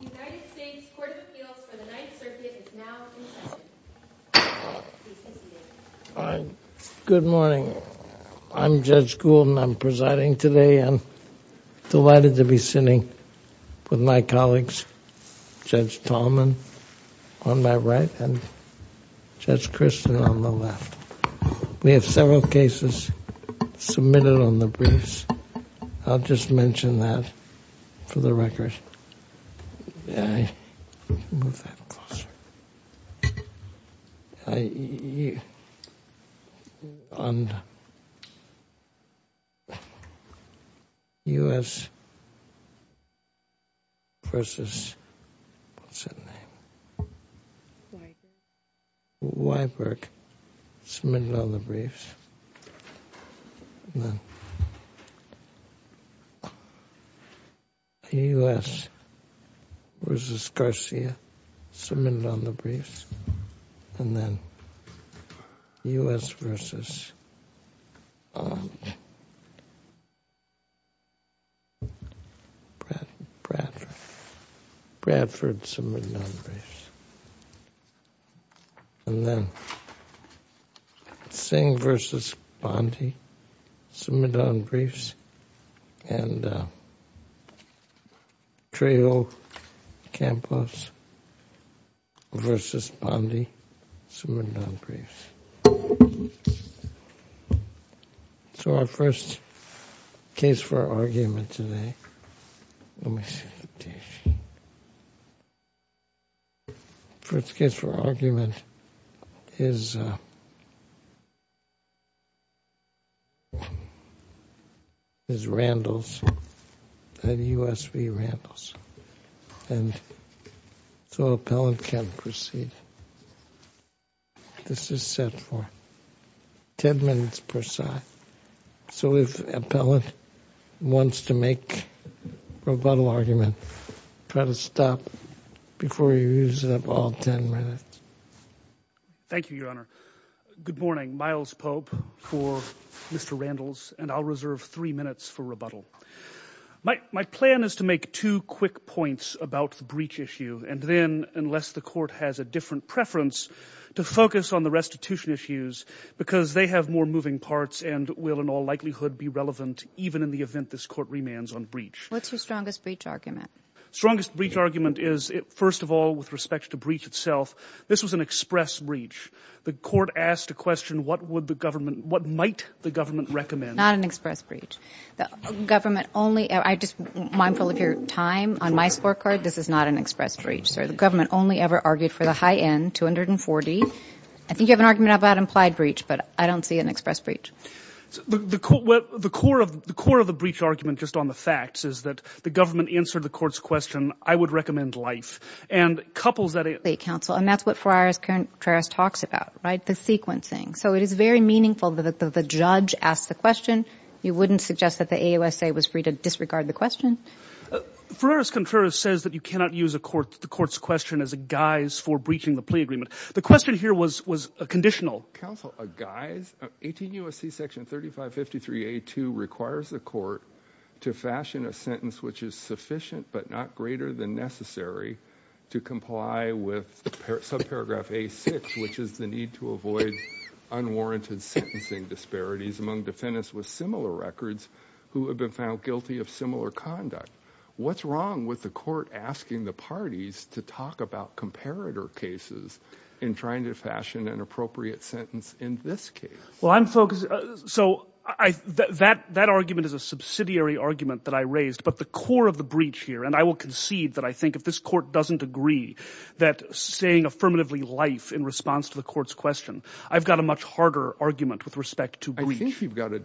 United States Court of Appeals for the Ninth Circuit is now in session. Good morning. I'm Judge Gould and I'm presiding today. I'm delighted to be sitting with my colleagues Judge Tallman on my right and Judge Christin on the left. We have several witnesses. Judge Wiberg submitted all the briefs. U.S. v. Garcia submitted all the briefs. Bradford submitted all the briefs. And then Singh v. Bondy submitted all the briefs. And Trejo Campos v. Bondy submitted all the briefs. So, our first case for argument today. First case for argument is Randles. U.S. v. Randles. So, the appellant can proceed. This is set for 10 minutes per side. So, if appellant wants to make rebuttal argument, try to stop before you use up all 10 minutes. Thank you, Your Honor. Good morning. Miles Pope for Mr. Randles and I'll reserve three minutes for rebuttal. My plan is to make two quick points about the breach issue. And then, unless the court has a different preference, to focus on the restitution issues because they have more moving parts and will in all likelihood be relevant even in the event this court remands on breach. What's your strongest breach argument? Strongest breach argument is, first of all, with respect to breach itself, this was an express breach. The court asked a question, what would the government, what might the government recommend? Not an express breach, sir. The government only ever argued for the high end, 240. I think you have an argument about implied breach, but I don't see an express breach. The core of the breach argument, just on the facts, is that the government answered the court's question, I would recommend life. And that's what Ferraris-Contreras talks about, right? The sequencing. So, it is very meaningful that the judge asked the question. You wouldn't suggest that the AUSA was free to disregard the question? Ferraris-Contreras says that you cannot use the court's question as a guise for breaching the plea agreement. The question here was a conditional. Counsel, a guise? 18 U.S.C. section 3553A2 requires the court to fashion a sentence which is sufficient but not greater than necessary to comply with subparagraph A6, which is the need to avoid unwarranted sentencing disparities among defendants with similar records who have been found guilty of similar conduct. What's wrong with the court asking the parties to talk about comparator cases and trying to fashion an appropriate sentence in this case? Well, I'm focused. So, that argument is a subsidiary argument that I raised, but the core of the breach here, and I will concede that I think if this court doesn't agree that saying affirmatively life in response to the court's question, I've got a much harder argument with respect to breach. I think you've got a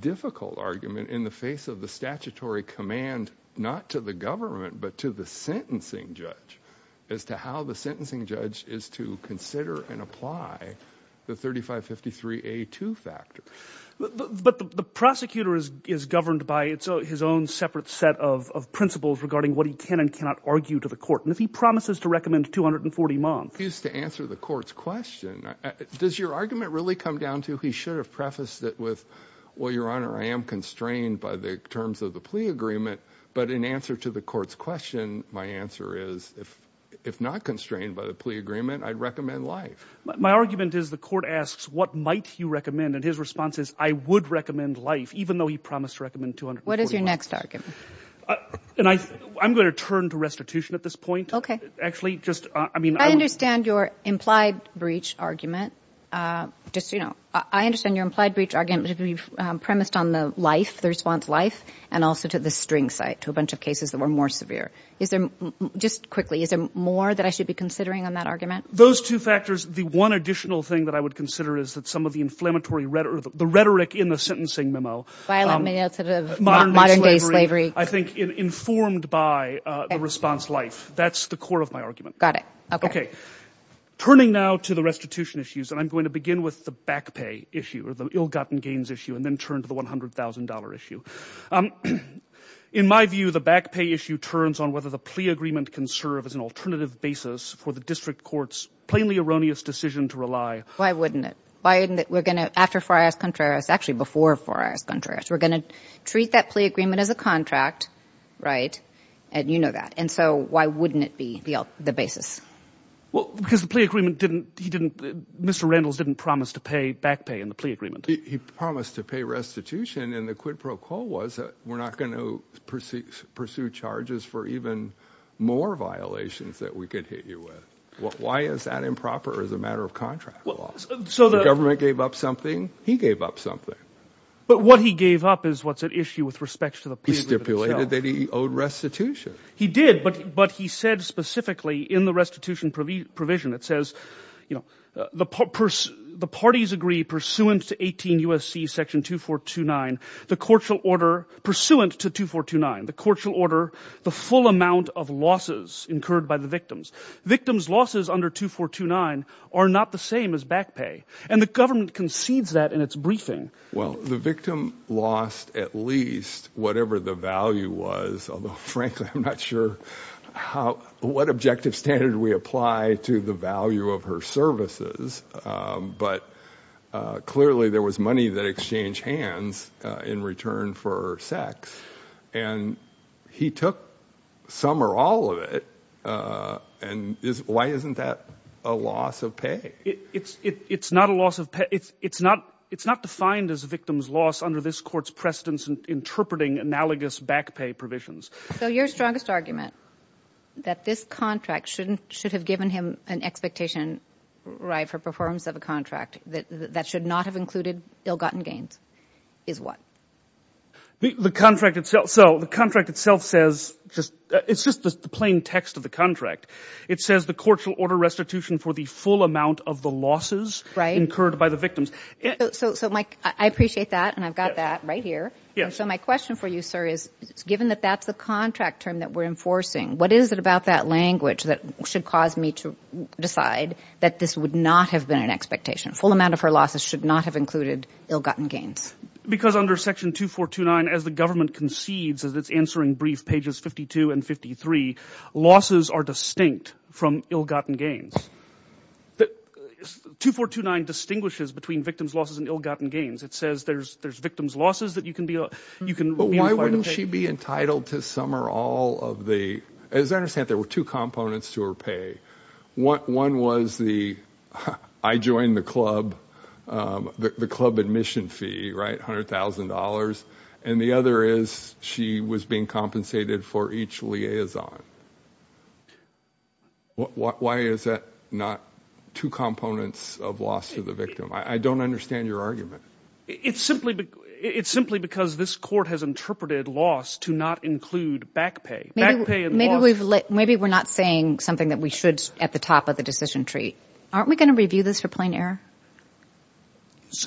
difficult argument in the face of the statutory command, not to the government, but to the sentencing judge as to how the sentencing judge is to consider and apply the 3553A2 factor. But the prosecutor is governed by his own separate set of principles regarding what he can and cannot argue to the court, and if he promises to recommend 240 months. Just to answer the court's question, does your argument really come down to he should have prefaced it with, well, your honor, I am constrained by the terms of the plea agreement, but in answer to the court's question, my answer is, if not constrained by the plea agreement, I'd recommend life. My argument is the court asks, what might you recommend? And his response is, I would recommend life, even though he promised to recommend 240 months. What is your next argument? And I'm going to turn to restitution at this point. Okay. Actually, just, I mean, I understand your implied breach argument. Just, you know, I understand your implied breach argument would be premised on the life, the response life, and also to the string site, to a bunch of cases that were more severe. Is there, just quickly, is there more that I should be considering on that argument? Those two factors, the one additional thing that I would consider is that some of the inflammatory rhetoric, the rhetoric in the sentencing memo. Violent means sort of modern day slavery. I think informed by the response life. That's the core of my argument. Got it. Okay. Turning now to the restitution issues, and I'm going to begin with the back pay issue or the ill-gotten gains issue, and then turn to the $100,000 issue. In my view, the back pay issue turns on whether the plea agreement can serve as an alternative basis for the district court's plainly erroneous decision to rely. Why wouldn't it? Why isn't it? We're going to, after four hours contrarious, actually before four hours contrarious, we're going to treat that plea agreement as a contract, right? And you know that. And so why wouldn't it be the basis? Well, because the plea agreement didn't, he didn't, Mr. Randles didn't promise to pay back pay in the plea agreement. He promised to pay restitution, and the quid pro quo was that we're not going to pursue charges for even more violations that we could hit you with. Why is that improper as a matter of contract law? The government gave up something, he gave up something. But what he gave up is what's at issue with respect to the plea agreement itself. He stipulated that he owed restitution. He did, but he said specifically in the restitution provision, it says, you know, the parties agree pursuant to 18 U.S.C. section 2429, the court shall order, pursuant to 2429, the court shall order the full amount of losses incurred by the victims. Victims' losses under 2429 are not the same as back pay, and the government concedes that in its briefing. Well, the victim lost at least whatever the value was, although, frankly, I'm not sure how, what objective standard we apply to the value of her services, but clearly there was money that exchanged hands in return for her sex, and he took some or all of it, and why isn't that a loss of pay? It's not a loss of pay, it's not defined as a victim's loss under this court's precedence in interpreting analogous back pay provisions. So your strongest argument, that this contract shouldn't, should have given him an expectation right for performance of a contract, that should not have included ill-gotten gains, is what? The contract itself, so the contract itself says, just, it's just the plain text of the contract. It says the court shall order restitution for the full amount of the losses incurred by the victims. So, Mike, I appreciate that, and I've got that right here. So my question for you, sir, is given that that's the contract term that we're enforcing, what is it about that language that should cause me to decide that this would not have been an expectation? Full amount of her losses should not have included ill-gotten gains. Because under section 2429, as the government concedes, as it's answering brief pages 52 and 53, losses are distinct from ill-gotten gains. 2429 distinguishes between victims' losses and ill-gotten gains. It says there's victims' losses that you can be, you can But why wouldn't she be entitled to some or all of the, as I understand, there were two components to her pay. One was the, I joined the club, the club admission fee, right, $100,000, and the other is she was being compensated for each liaison. Why is that not two components of loss to the victim? I don't understand your argument. It's simply because this court has interpreted loss to not include back pay. Maybe we're not saying something that we should at the top of the decision tree. Aren't we going to review this for plain error?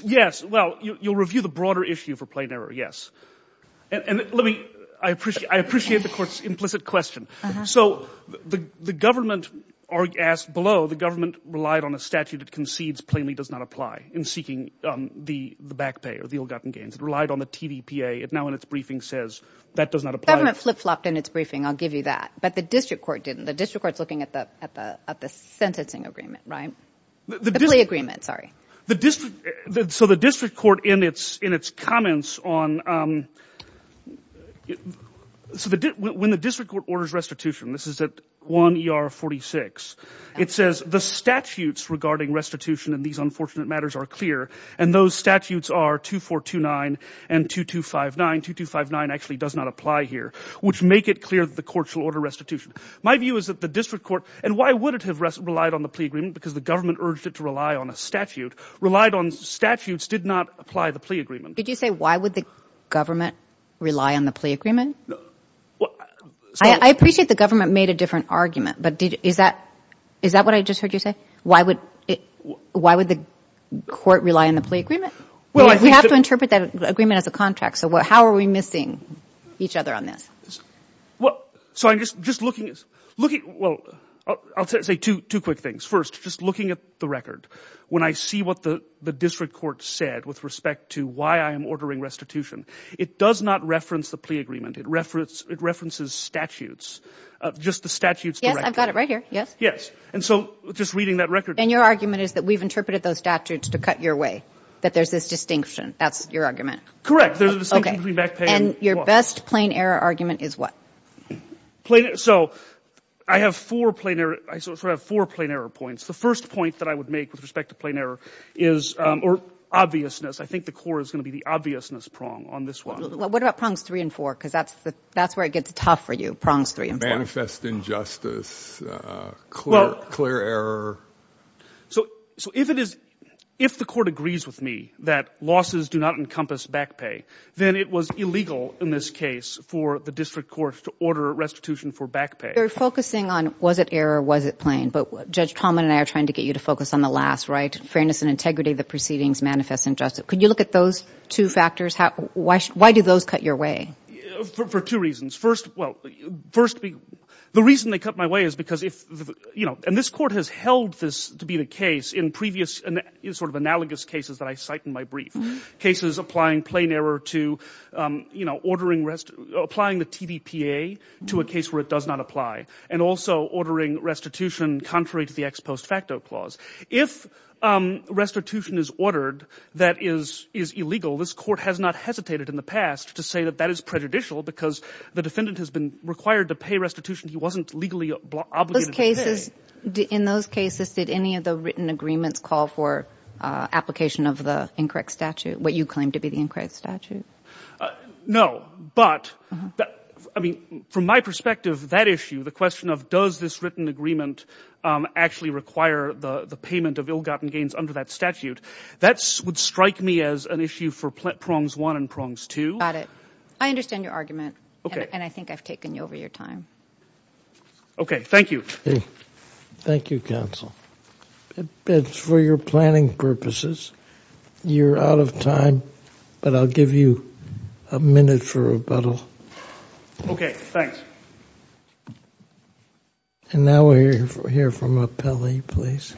Yes, well, you'll review the issue for plain error, yes. And let me, I appreciate, I appreciate the court's implicit question. So the government asked below, the government relied on a statute that concedes plainly does not apply in seeking the back pay or the ill-gotten gains. It relied on the TDPA. It now, in its briefing, says that does not apply. The government flip-flopped in its briefing, I'll give you that. But the district court didn't. The district court's looking at the sentencing agreement, right? The play agreement, sorry. The district, so the district court in its comments on, so when the district court orders restitution, this is at 1 ER 46, it says the statutes regarding restitution in these unfortunate matters are clear, and those statutes are 2429 and 2259, 2259 actually does not apply here, which make it clear that the court shall order restitution. My view is that the district court, and why would it have relied on the plea agreement? Because the government urged it to rely on a statute. Relied on statutes did not apply the plea agreement. Did you say why would the government rely on the plea agreement? I appreciate the government made a different argument, but did, is that, is that what I just heard you say? Why would it, why would the court rely on the plea agreement? Well, we have to interpret that agreement as a contract. So how are we missing each other on this? Well, so I'm just, just looking, looking, well, I'll say two, two quick things. First, just looking at the record, when I see what the district court said with respect to why I am ordering restitution, it does not reference the plea agreement. It reference, it references statutes, just the statutes. Yes, I've got it right here. Yes. Yes. And so just reading that record. And your argument is that we've interpreted those statutes to cut your way, that there's this distinction. That's your argument. Correct. There's a distinction between backpaying. And your best plain error argument is what? So I have four plain error, I sort of have four plain error points. The first point that I would make with respect to plain error is, or obviousness, I think the court is going to be the obviousness prong on this one. What about prongs three and four? Because that's the, that's where it gets tough for you, prongs three and four. Manifest injustice, clear, clear error. So, so if it is, if the court agrees with me that losses do not encompass backpay, then it was illegal in this case for the district court to order restitution for backpay. You're focusing on, was it error? Was it plain? But Judge Trauman and I are trying to get you to focus on the last right, fairness and integrity, the proceedings manifest injustice. Could you look at those two factors? Why, why do those cut your way? For two reasons. First, well, first, the reason they cut my way is because if, you know, and this court has held this to be the case in previous sort of analogous cases that I cite in my brief. Cases applying plain error to, you know, ordering rest, applying the TDPA to a case where it does not apply. And also ordering restitution contrary to the ex post facto clause. If restitution is ordered that is, is illegal, this court has not hesitated in the past to say that that is prejudicial because the defendant has been required to pay restitution. He wasn't legally obligated. Those cases, in those cases, did any of the written agreements call for application of the incorrect statute, what you claim to be the incorrect statute? No, but I mean, from my perspective, that issue, the question of does this written agreement actually require the payment of ill-gotten gains under that statute? That would strike me as an issue for prongs one and prongs two. I understand your argument, and I think I've taken over your time. Okay, thank you. Thank you, counsel. For your planning purposes, you're out of time, but I'll give you a minute for rebuttal. Okay, thanks. And now we'll hear from Appellee, please.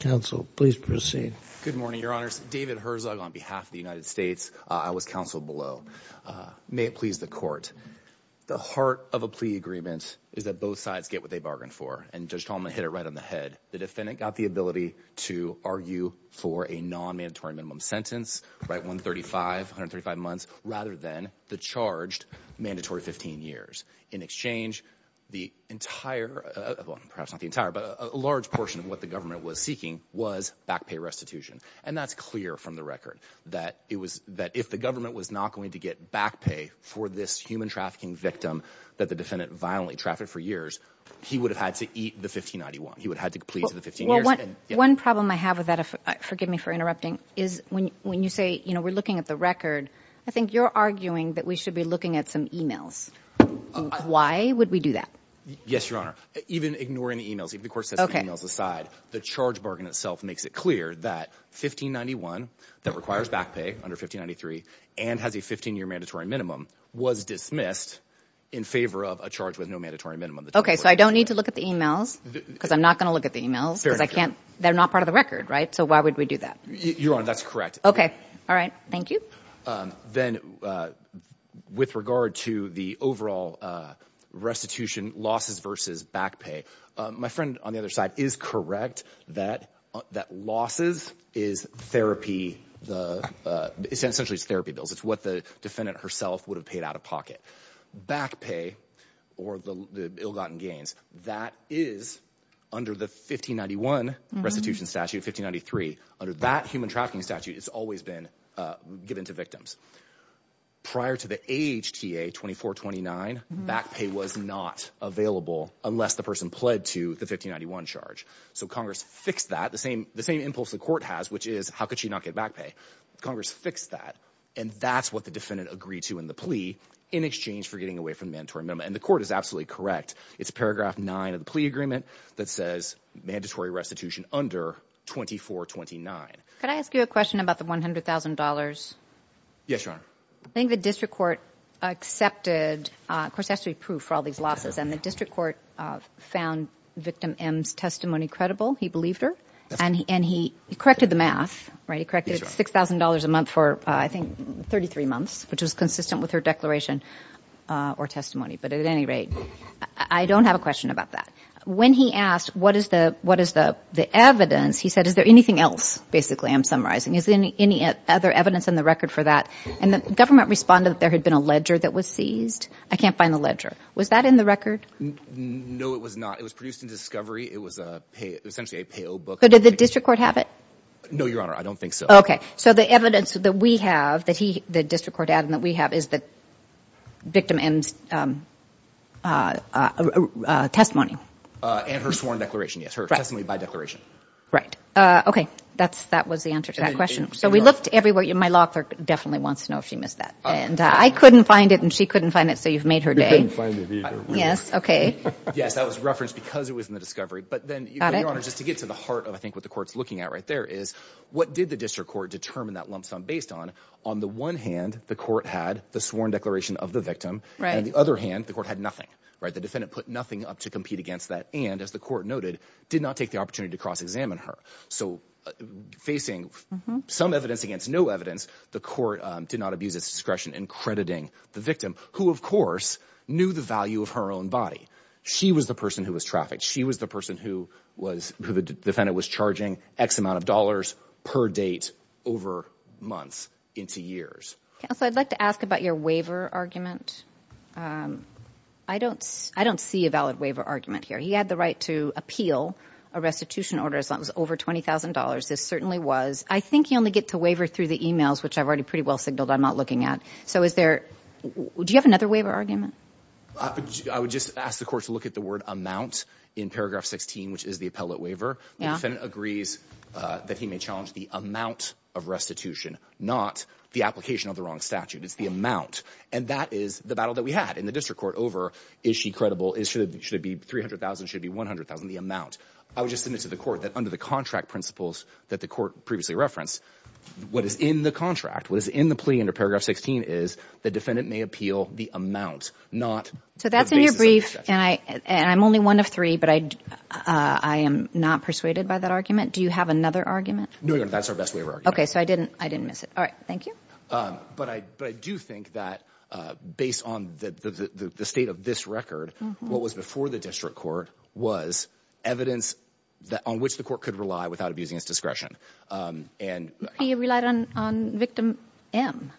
Counsel, please proceed. Good morning, Your Honors. David Herzog on behalf of the United States. I was counsel below. May it please the court. The heart of a plea agreement is that both sides get what they bargained for and Judge Tolman hit it right on the head. The defendant got the ability to argue for a non-mandatory minimum sentence, right, 135, 135 months, rather than the charged mandatory 15 years. In exchange, the entire, perhaps not the entire, but a large portion of what the government was seeking was back pay restitution. And that's clear from the record, that if the government was not going to get back pay for this human trafficking victim that the defendant violently trafficked for years, he would have had to eat the 1591. He would have had to plead for the 15 years. One problem I have with that, forgive me for interrupting, is when you say, you know, we're looking at the record, I think you're arguing that we should be looking at some emails. Why would we do that? Yes, Your Honor. Even ignoring the emails, if the court sets the emails aside, the charge bargain itself makes it clear that 1591, that requires back pay under 1593, and has a 15-year mandatory minimum, was dismissed in favor of a charge with no mandatory minimum. Okay, so I don't need to look at the emails because I'm not going to look at the emails because I can't, they're not part of the record, right? So why would we do that? Your Honor, that's correct. Okay. All right. Thank you. Then with regard to the overall restitution losses versus back pay, my friend on the other side is correct that losses is therapy, essentially it's therapy bills. It's what the defendant herself would have paid out of pocket. Back pay or the ill-gotten gains, that is under the 1591 restitution statute, 1593, under that human trafficking statute, it's always been given to victims. Prior to the AHTA 2429, back pay was not available unless the person pled to the 1591 charge. So Congress fixed that, the same impulse the court has, which is how could she not get back pay? Congress fixed that, and that's what the defendant agreed to in the plea in exchange for getting away from the mandatory minimum. And the court is absolutely correct. It's paragraph nine of the plea agreement that says mandatory restitution under 2429. Could I ask you a question about the $100,000? Yes, Your Honor. I think the district court accepted, of course it has to be proof for all these losses, and the district court found victim M's testimony credible, he believed her, and he corrected the math, right? He corrected $6,000 a month for, I think, 33 months, which was consistent with her declaration or testimony. But at any rate, I don't have a question about that. When he asked, what is the evidence, he said, is there anything else, basically, I'm summarizing. Is there any other evidence in the record for that? And the government responded that there had been a ledger that was seized. I can't find the ledger. Was that in the record? No, it was not. It was produced in discovery. It was essentially a payo book. So did the district court have it? Your Honor, I don't think so. Okay. So the evidence that we have, that the district court had and that we have, is that victim M's testimony. And her sworn declaration, yes. Her testimony by declaration. Right. Okay. That was the answer to that question. So we looked everywhere. My law clerk definitely wants to know if she missed that. And I couldn't find it, and she couldn't find it, so you've made her day. You couldn't find it either. Yes, okay. Yes, that was referenced because it was in the discovery. But then, Your Honor, just to get to I think what the court's looking at right there is, what did the district court determine that lump sum based on? On the one hand, the court had the sworn declaration of the victim. Right. And the other hand, the court had nothing, right? The defendant put nothing up to compete against that. And as the court noted, did not take the opportunity to cross-examine her. So facing some evidence against no evidence, the court did not abuse its discretion in crediting the victim, who of course knew the value of her own body. She was the person who was trafficked. She was the person who the defendant was charging X amount of dollars per date over months into years. So I'd like to ask about your waiver argument. I don't see a valid waiver argument here. He had the right to appeal a restitution order, something that was over $20,000. This certainly was. I think you only get to waiver through the emails, which I've already pretty well signaled I'm not looking at. So is there, do you have another waiver argument? I would just ask the court to look at the word amount in paragraph 16, which is the appellate waiver. The defendant agrees that he may challenge the amount of restitution, not the application of the wrong statute. It's the amount. And that is the battle that we had in the district court over, is she credible? Should it be 300,000? Should it be 100,000? The amount. I would just submit to the court that under the contract principles that the court previously referenced, what is in the contract, what is in the plea under paragraph 16 is the defendant may appeal the amount, not the basis of the statute. So that's in your brief and I, and I'm only one of three, but I, I am not persuaded by that argument. Do you have another argument? No, that's our best waiver argument. Okay. So I didn't, I didn't miss it. All right. Thank you. But I, but I do think that based on the, the, the, the state of this record, what was before the district court was evidence that on which the court could rely without abusing its discretion. And he relied on, on victim M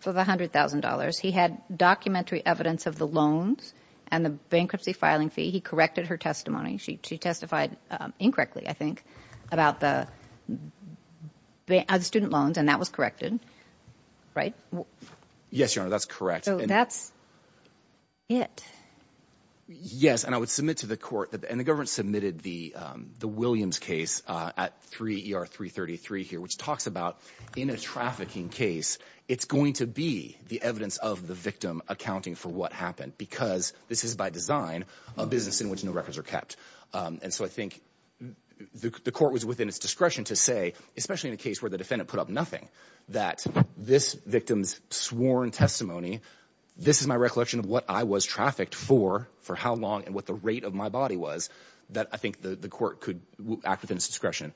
for the a hundred thousand dollars. He had documentary evidence of the loans and the bankruptcy filing fee. He corrected her testimony. She, she testified incorrectly, I think about the student loans and that was corrected, right? Yes, Your Honor. That's correct. So that's it. Yes. And I would submit to the court that, and the government submitted the, the Williams case at three ER three 33 here, which talks about in a trafficking case, it's going to be the evidence of the victim accounting for what happened, because this is by design a business in which no records are kept. And so I think the court was within its discretion to say, especially in a case where the defendant put up nothing that this victim's sworn testimony, this is my recollection of what I was trafficked for, for how long and what the rate of my body was that I think the court could act within its discretion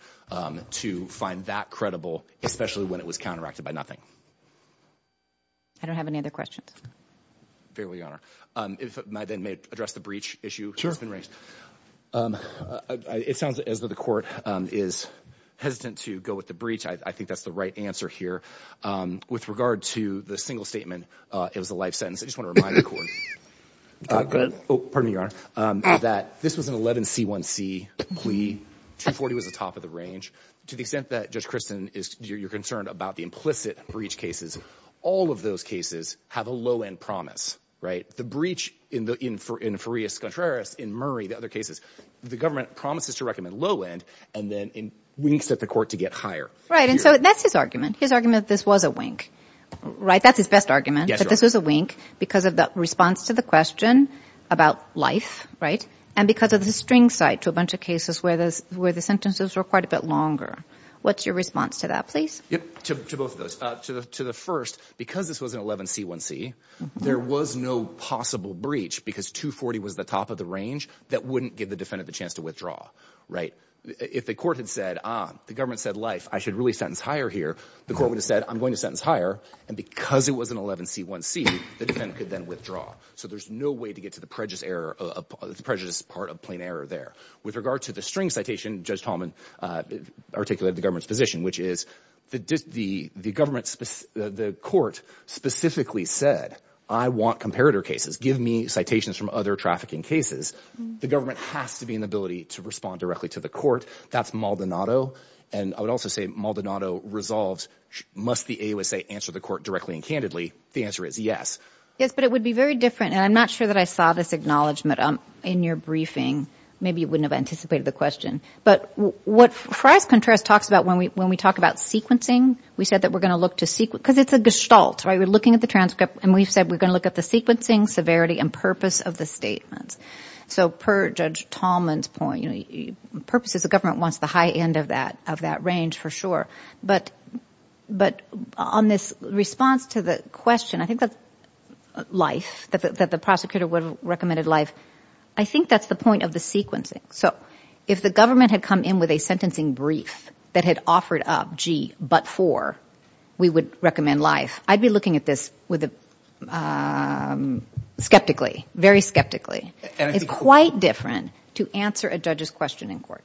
to find that credible, especially when it was counteracted by nothing. I don't have any other questions. Fairly, Your Honor. If my then may address the breach issue has been raised. It sounds as though the court is hesitant to go with the breach. I think that's the right answer here with regard to the single statement. It was a life sentence. I just was an 11 C one C plea. Two 40 was the top of the range to the extent that judge Kristen is you're concerned about the implicit breach cases. All of those cases have a low-end promise, right? The breach in the, in, for, in Farias Contreras in Murray, the other cases, the government promises to recommend low-end and then in winks at the court to get higher. Right. And so that's his argument. His argument, this was a wink, right? That's his best argument, this was a wink because of the response to the question about life, right? And because of the string site to a bunch of cases where this, where the sentences were quite a bit longer. What's your response to that, please? Yep. To, to both of those, uh, to the, to the first, because this was an 11 C one C there was no possible breach because two 40 was the top of the range that wouldn't give the defendant the chance to withdraw, right? If the court had said, ah, the government said life, I should really sentence higher here. The court would have said, I'm going to sentence higher. And because it was an 11 C one C the defendant could then withdraw. So there's no way to get to the prejudice error of prejudice, part of plain error there with regard to the string citation, judge Talman, uh, articulated the government's position, which is the, the, the government, the court specifically said, I want comparator cases. Give me citations from other trafficking cases. The government has to be an ability to respond directly to the court. That's Maldonado. And I would also say Maldonado resolves, must the AOSA answer the court directly and candidly? The answer is yes. Yes, but it would be very different. And I'm not sure that I saw this acknowledgement in your briefing. Maybe you wouldn't have anticipated the question, but what Fry's contrast talks about when we, when we talk about sequencing, we said that we're going to look to sequence because it's a gestalt, right? We're looking at the transcript and we've said, we're going to look at the sequencing severity and purpose of the statements. So per judge Talman's point, you know, purposes, the government wants the high end of that, of that range for sure. But, but on this response to the question, I think that's life that the prosecutor would have recommended life. I think that's the point of the sequencing. So if the government had come in with a sentencing brief that had offered up, gee, but for, we would recommend life. I'd be looking at this with a, um, skeptically, very skeptically. It's quite different to answer a judge's question in court.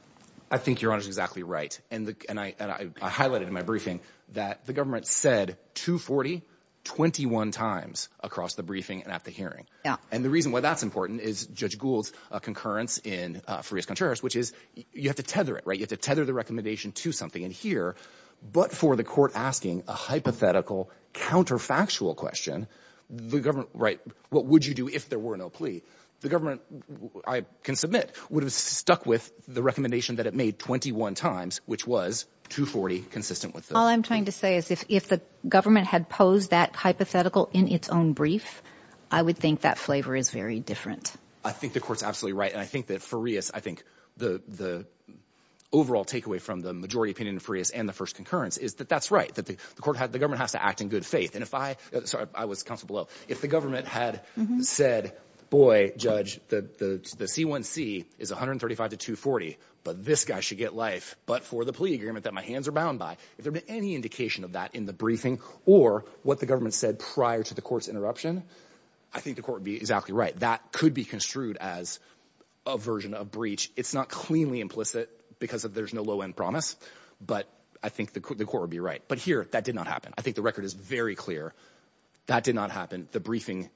I think your honor is exactly right. And the, and I, and I highlighted in my briefing that the government said two 40, 21 times across the briefing and at the hearing. And the reason why that's important is judge Gould's a concurrence in, uh, for his contours, which is you have to tether it, right? You have to tether the recommendation to something in here, but for the court asking a hypothetical counterfactual question, the government, right. What would you do if there were no plea, the government I can submit would have stuck with the recommendation that it made 21 times, which was two 40 consistent with All I'm trying to say is if, if the government had posed that hypothetical in its own brief, I would think that flavor is very different. I think the court's absolutely right. And I think that for us, I think the, the overall takeaway from the majority opinion for us and the first concurrence is that that's right. That the court had, the government has to act in good faith. And if I, sorry, I was council below. If the government had said, boy, judge the, the, the C one C is 135 to two 40, but this guy should get life. But for the plea agreement that my hands are bound by, if there'd been any indication of that in the briefing or what the government said prior to the court's interruption, I think the court would be exactly right. That could be construed as a version of breach. It's not implicit because of there's no low end promise, but I think the court would be right. But here that did not happen. I think the record is very clear that did not happen. The briefing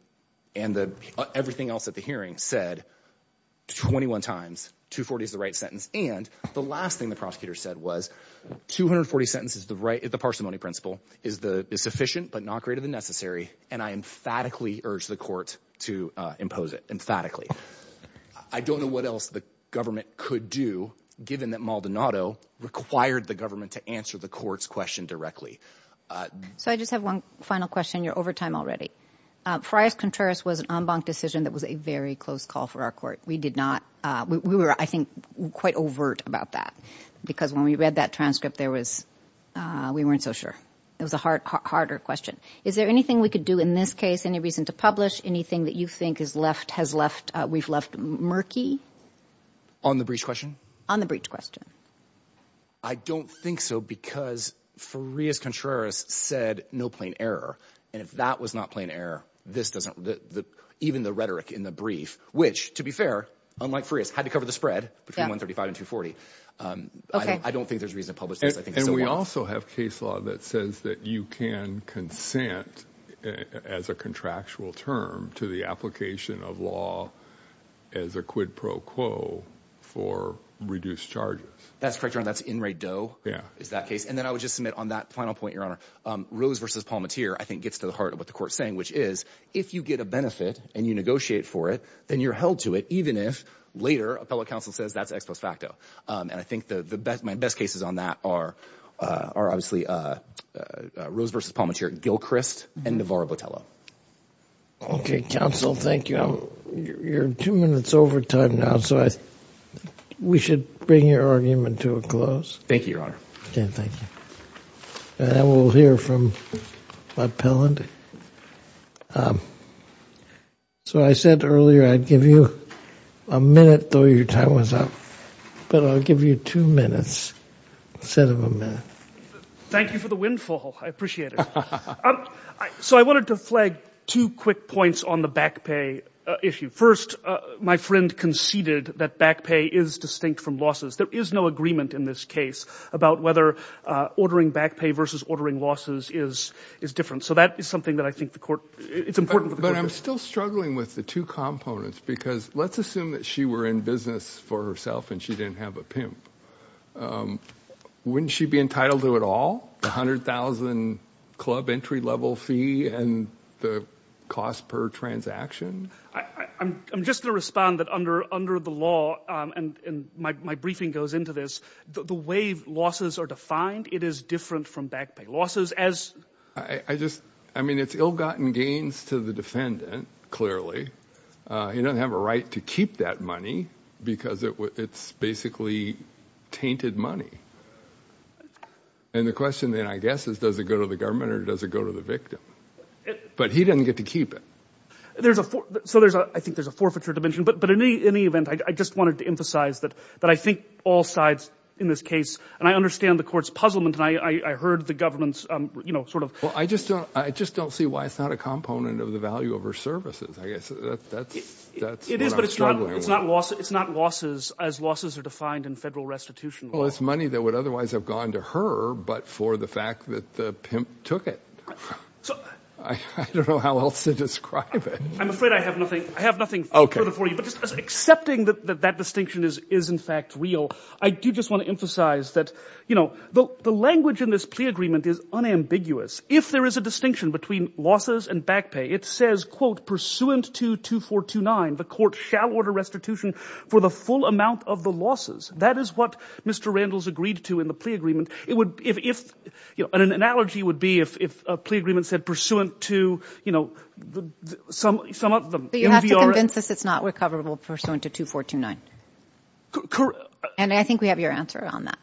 and the everything else at the hearing said 21 times two 40 is the right sentence. And the last thing the prosecutor said was 240 sentences. The right at the parsimony principle is the sufficient, but not greater than necessary. And I emphatically urged the court to impose it emphatically. I don't know what else the government could do given that Maldonado required the government to answer the court's question directly. So I just have one final question. You're over time already. Friars Contreras was an en banc decision that was a very close call for our court. We did not, we were, I think quite overt about that because when we read that transcript, there was, we weren't so sure it was a hard, harder question. Is there anything we could do in this case, any reason to publish anything that you think is left, has left, uh, we've left murky on the breach question on the breach question. I don't think so because for Ria's Contreras said no plain error. And if that was not plain error, this doesn't, the, the, even the rhetoric in the brief, which to be fair, unlike for us had to cover the spread between one 35 and two 40. Um, I don't think there's a reason to publish this. And we also have case law that says that you can consent as a contractual term to the application of law as a quid pro quo for reduced charges. That's correct. That's in Ray Doe is that case. And then I would just submit on that final point, your honor, um, Rose versus Palmatier, I think gets to the heart of what the court saying, which is if you get a benefit and you negotiate for it, then you're held to it. Even if later appellate counsel says that's ex post facto. Um, and I think the, the best, my best cases on that are, uh, are obviously, uh, uh, uh, Rose versus Palmatier, Gilchrist and Navarro Botello. Okay. Counsel, thank you. You're two minutes over time now. So I, we should bring your argument to a close. Thank you, your honor. Okay. Thank you. And then we'll hear from my appellant. Um, so I said earlier, I'd give you a minute, your time was up, but I'll give you two minutes instead of a minute. Thank you for the windfall. I appreciate it. Um, so I wanted to flag two quick points on the back pay issue. First, uh, my friend conceded that back pay is distinct from losses. There is no agreement in this case about whether, uh, ordering back pay versus ordering losses is, is different. So that is something that I think the court it's important, but I'm still struggling with the two components because let's assume that she were in business for herself and she didn't have a pimp. Um, wouldn't she be entitled to it all? A hundred thousand club entry level fee and the cost per transaction. I, I, I'm just going to respond that under, under the law. Um, and, and my, my briefing goes into this, the way losses are defined, it is different from back pay losses as I, I just, I mean, it's ill gotten gains to the defendant. Clearly, uh, he doesn't have a right to keep that money because it, it's basically tainted money. And the question then I guess is, does it go to the government or does it go to the victim? But he didn't get to keep it. There's a four. So there's a, I think there's a forfeiture dimension, but, but in any, any event, I just wanted to emphasize that, that I think all sides in this case, and I understand the court's puzzlement and I, I heard the government's, um, you know, sort of, well, I just don't, I just don't see why it's not a component of the value of her services, I guess. It is, but it's not, it's not loss. It's not losses as losses are defined in federal restitution. Well, it's money that would otherwise have gone to her, but for the fact that the pimp took it. I don't know how else to describe it. I'm afraid I have nothing. I have nothing further for you, but just accepting that that distinction is, is in fact real. I do just want to emphasize that, you know, the language in this plea agreement is unambiguous. If there is a distinction between losses and back pay, it says, quote, pursuant to 2429, the court shall order restitution for the full amount of the losses. That is what Mr. Randall's agreed to in the plea agreement. It would, if, if, you know, an analogy would be if, if a plea agreement said pursuant to, you know, some, some of them. You have to convince us it's not recoverable pursuant to 2429. Correct. And I think we have your answer on that.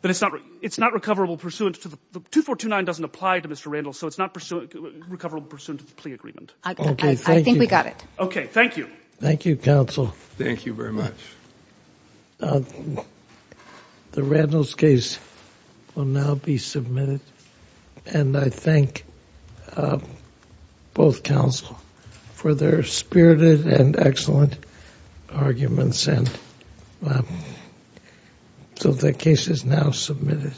But it's not, it's not recoverable pursuant to the 2429 doesn't apply to Mr. Randall. So it's not pursuant, recoverable pursuant to the plea agreement. I think we got it. Okay. Thank you. Thank you counsel. Thank you very much. The Randall's case will now be submitted and I thank both counsel for their spirited and excellent arguments. And so the case is now submitted.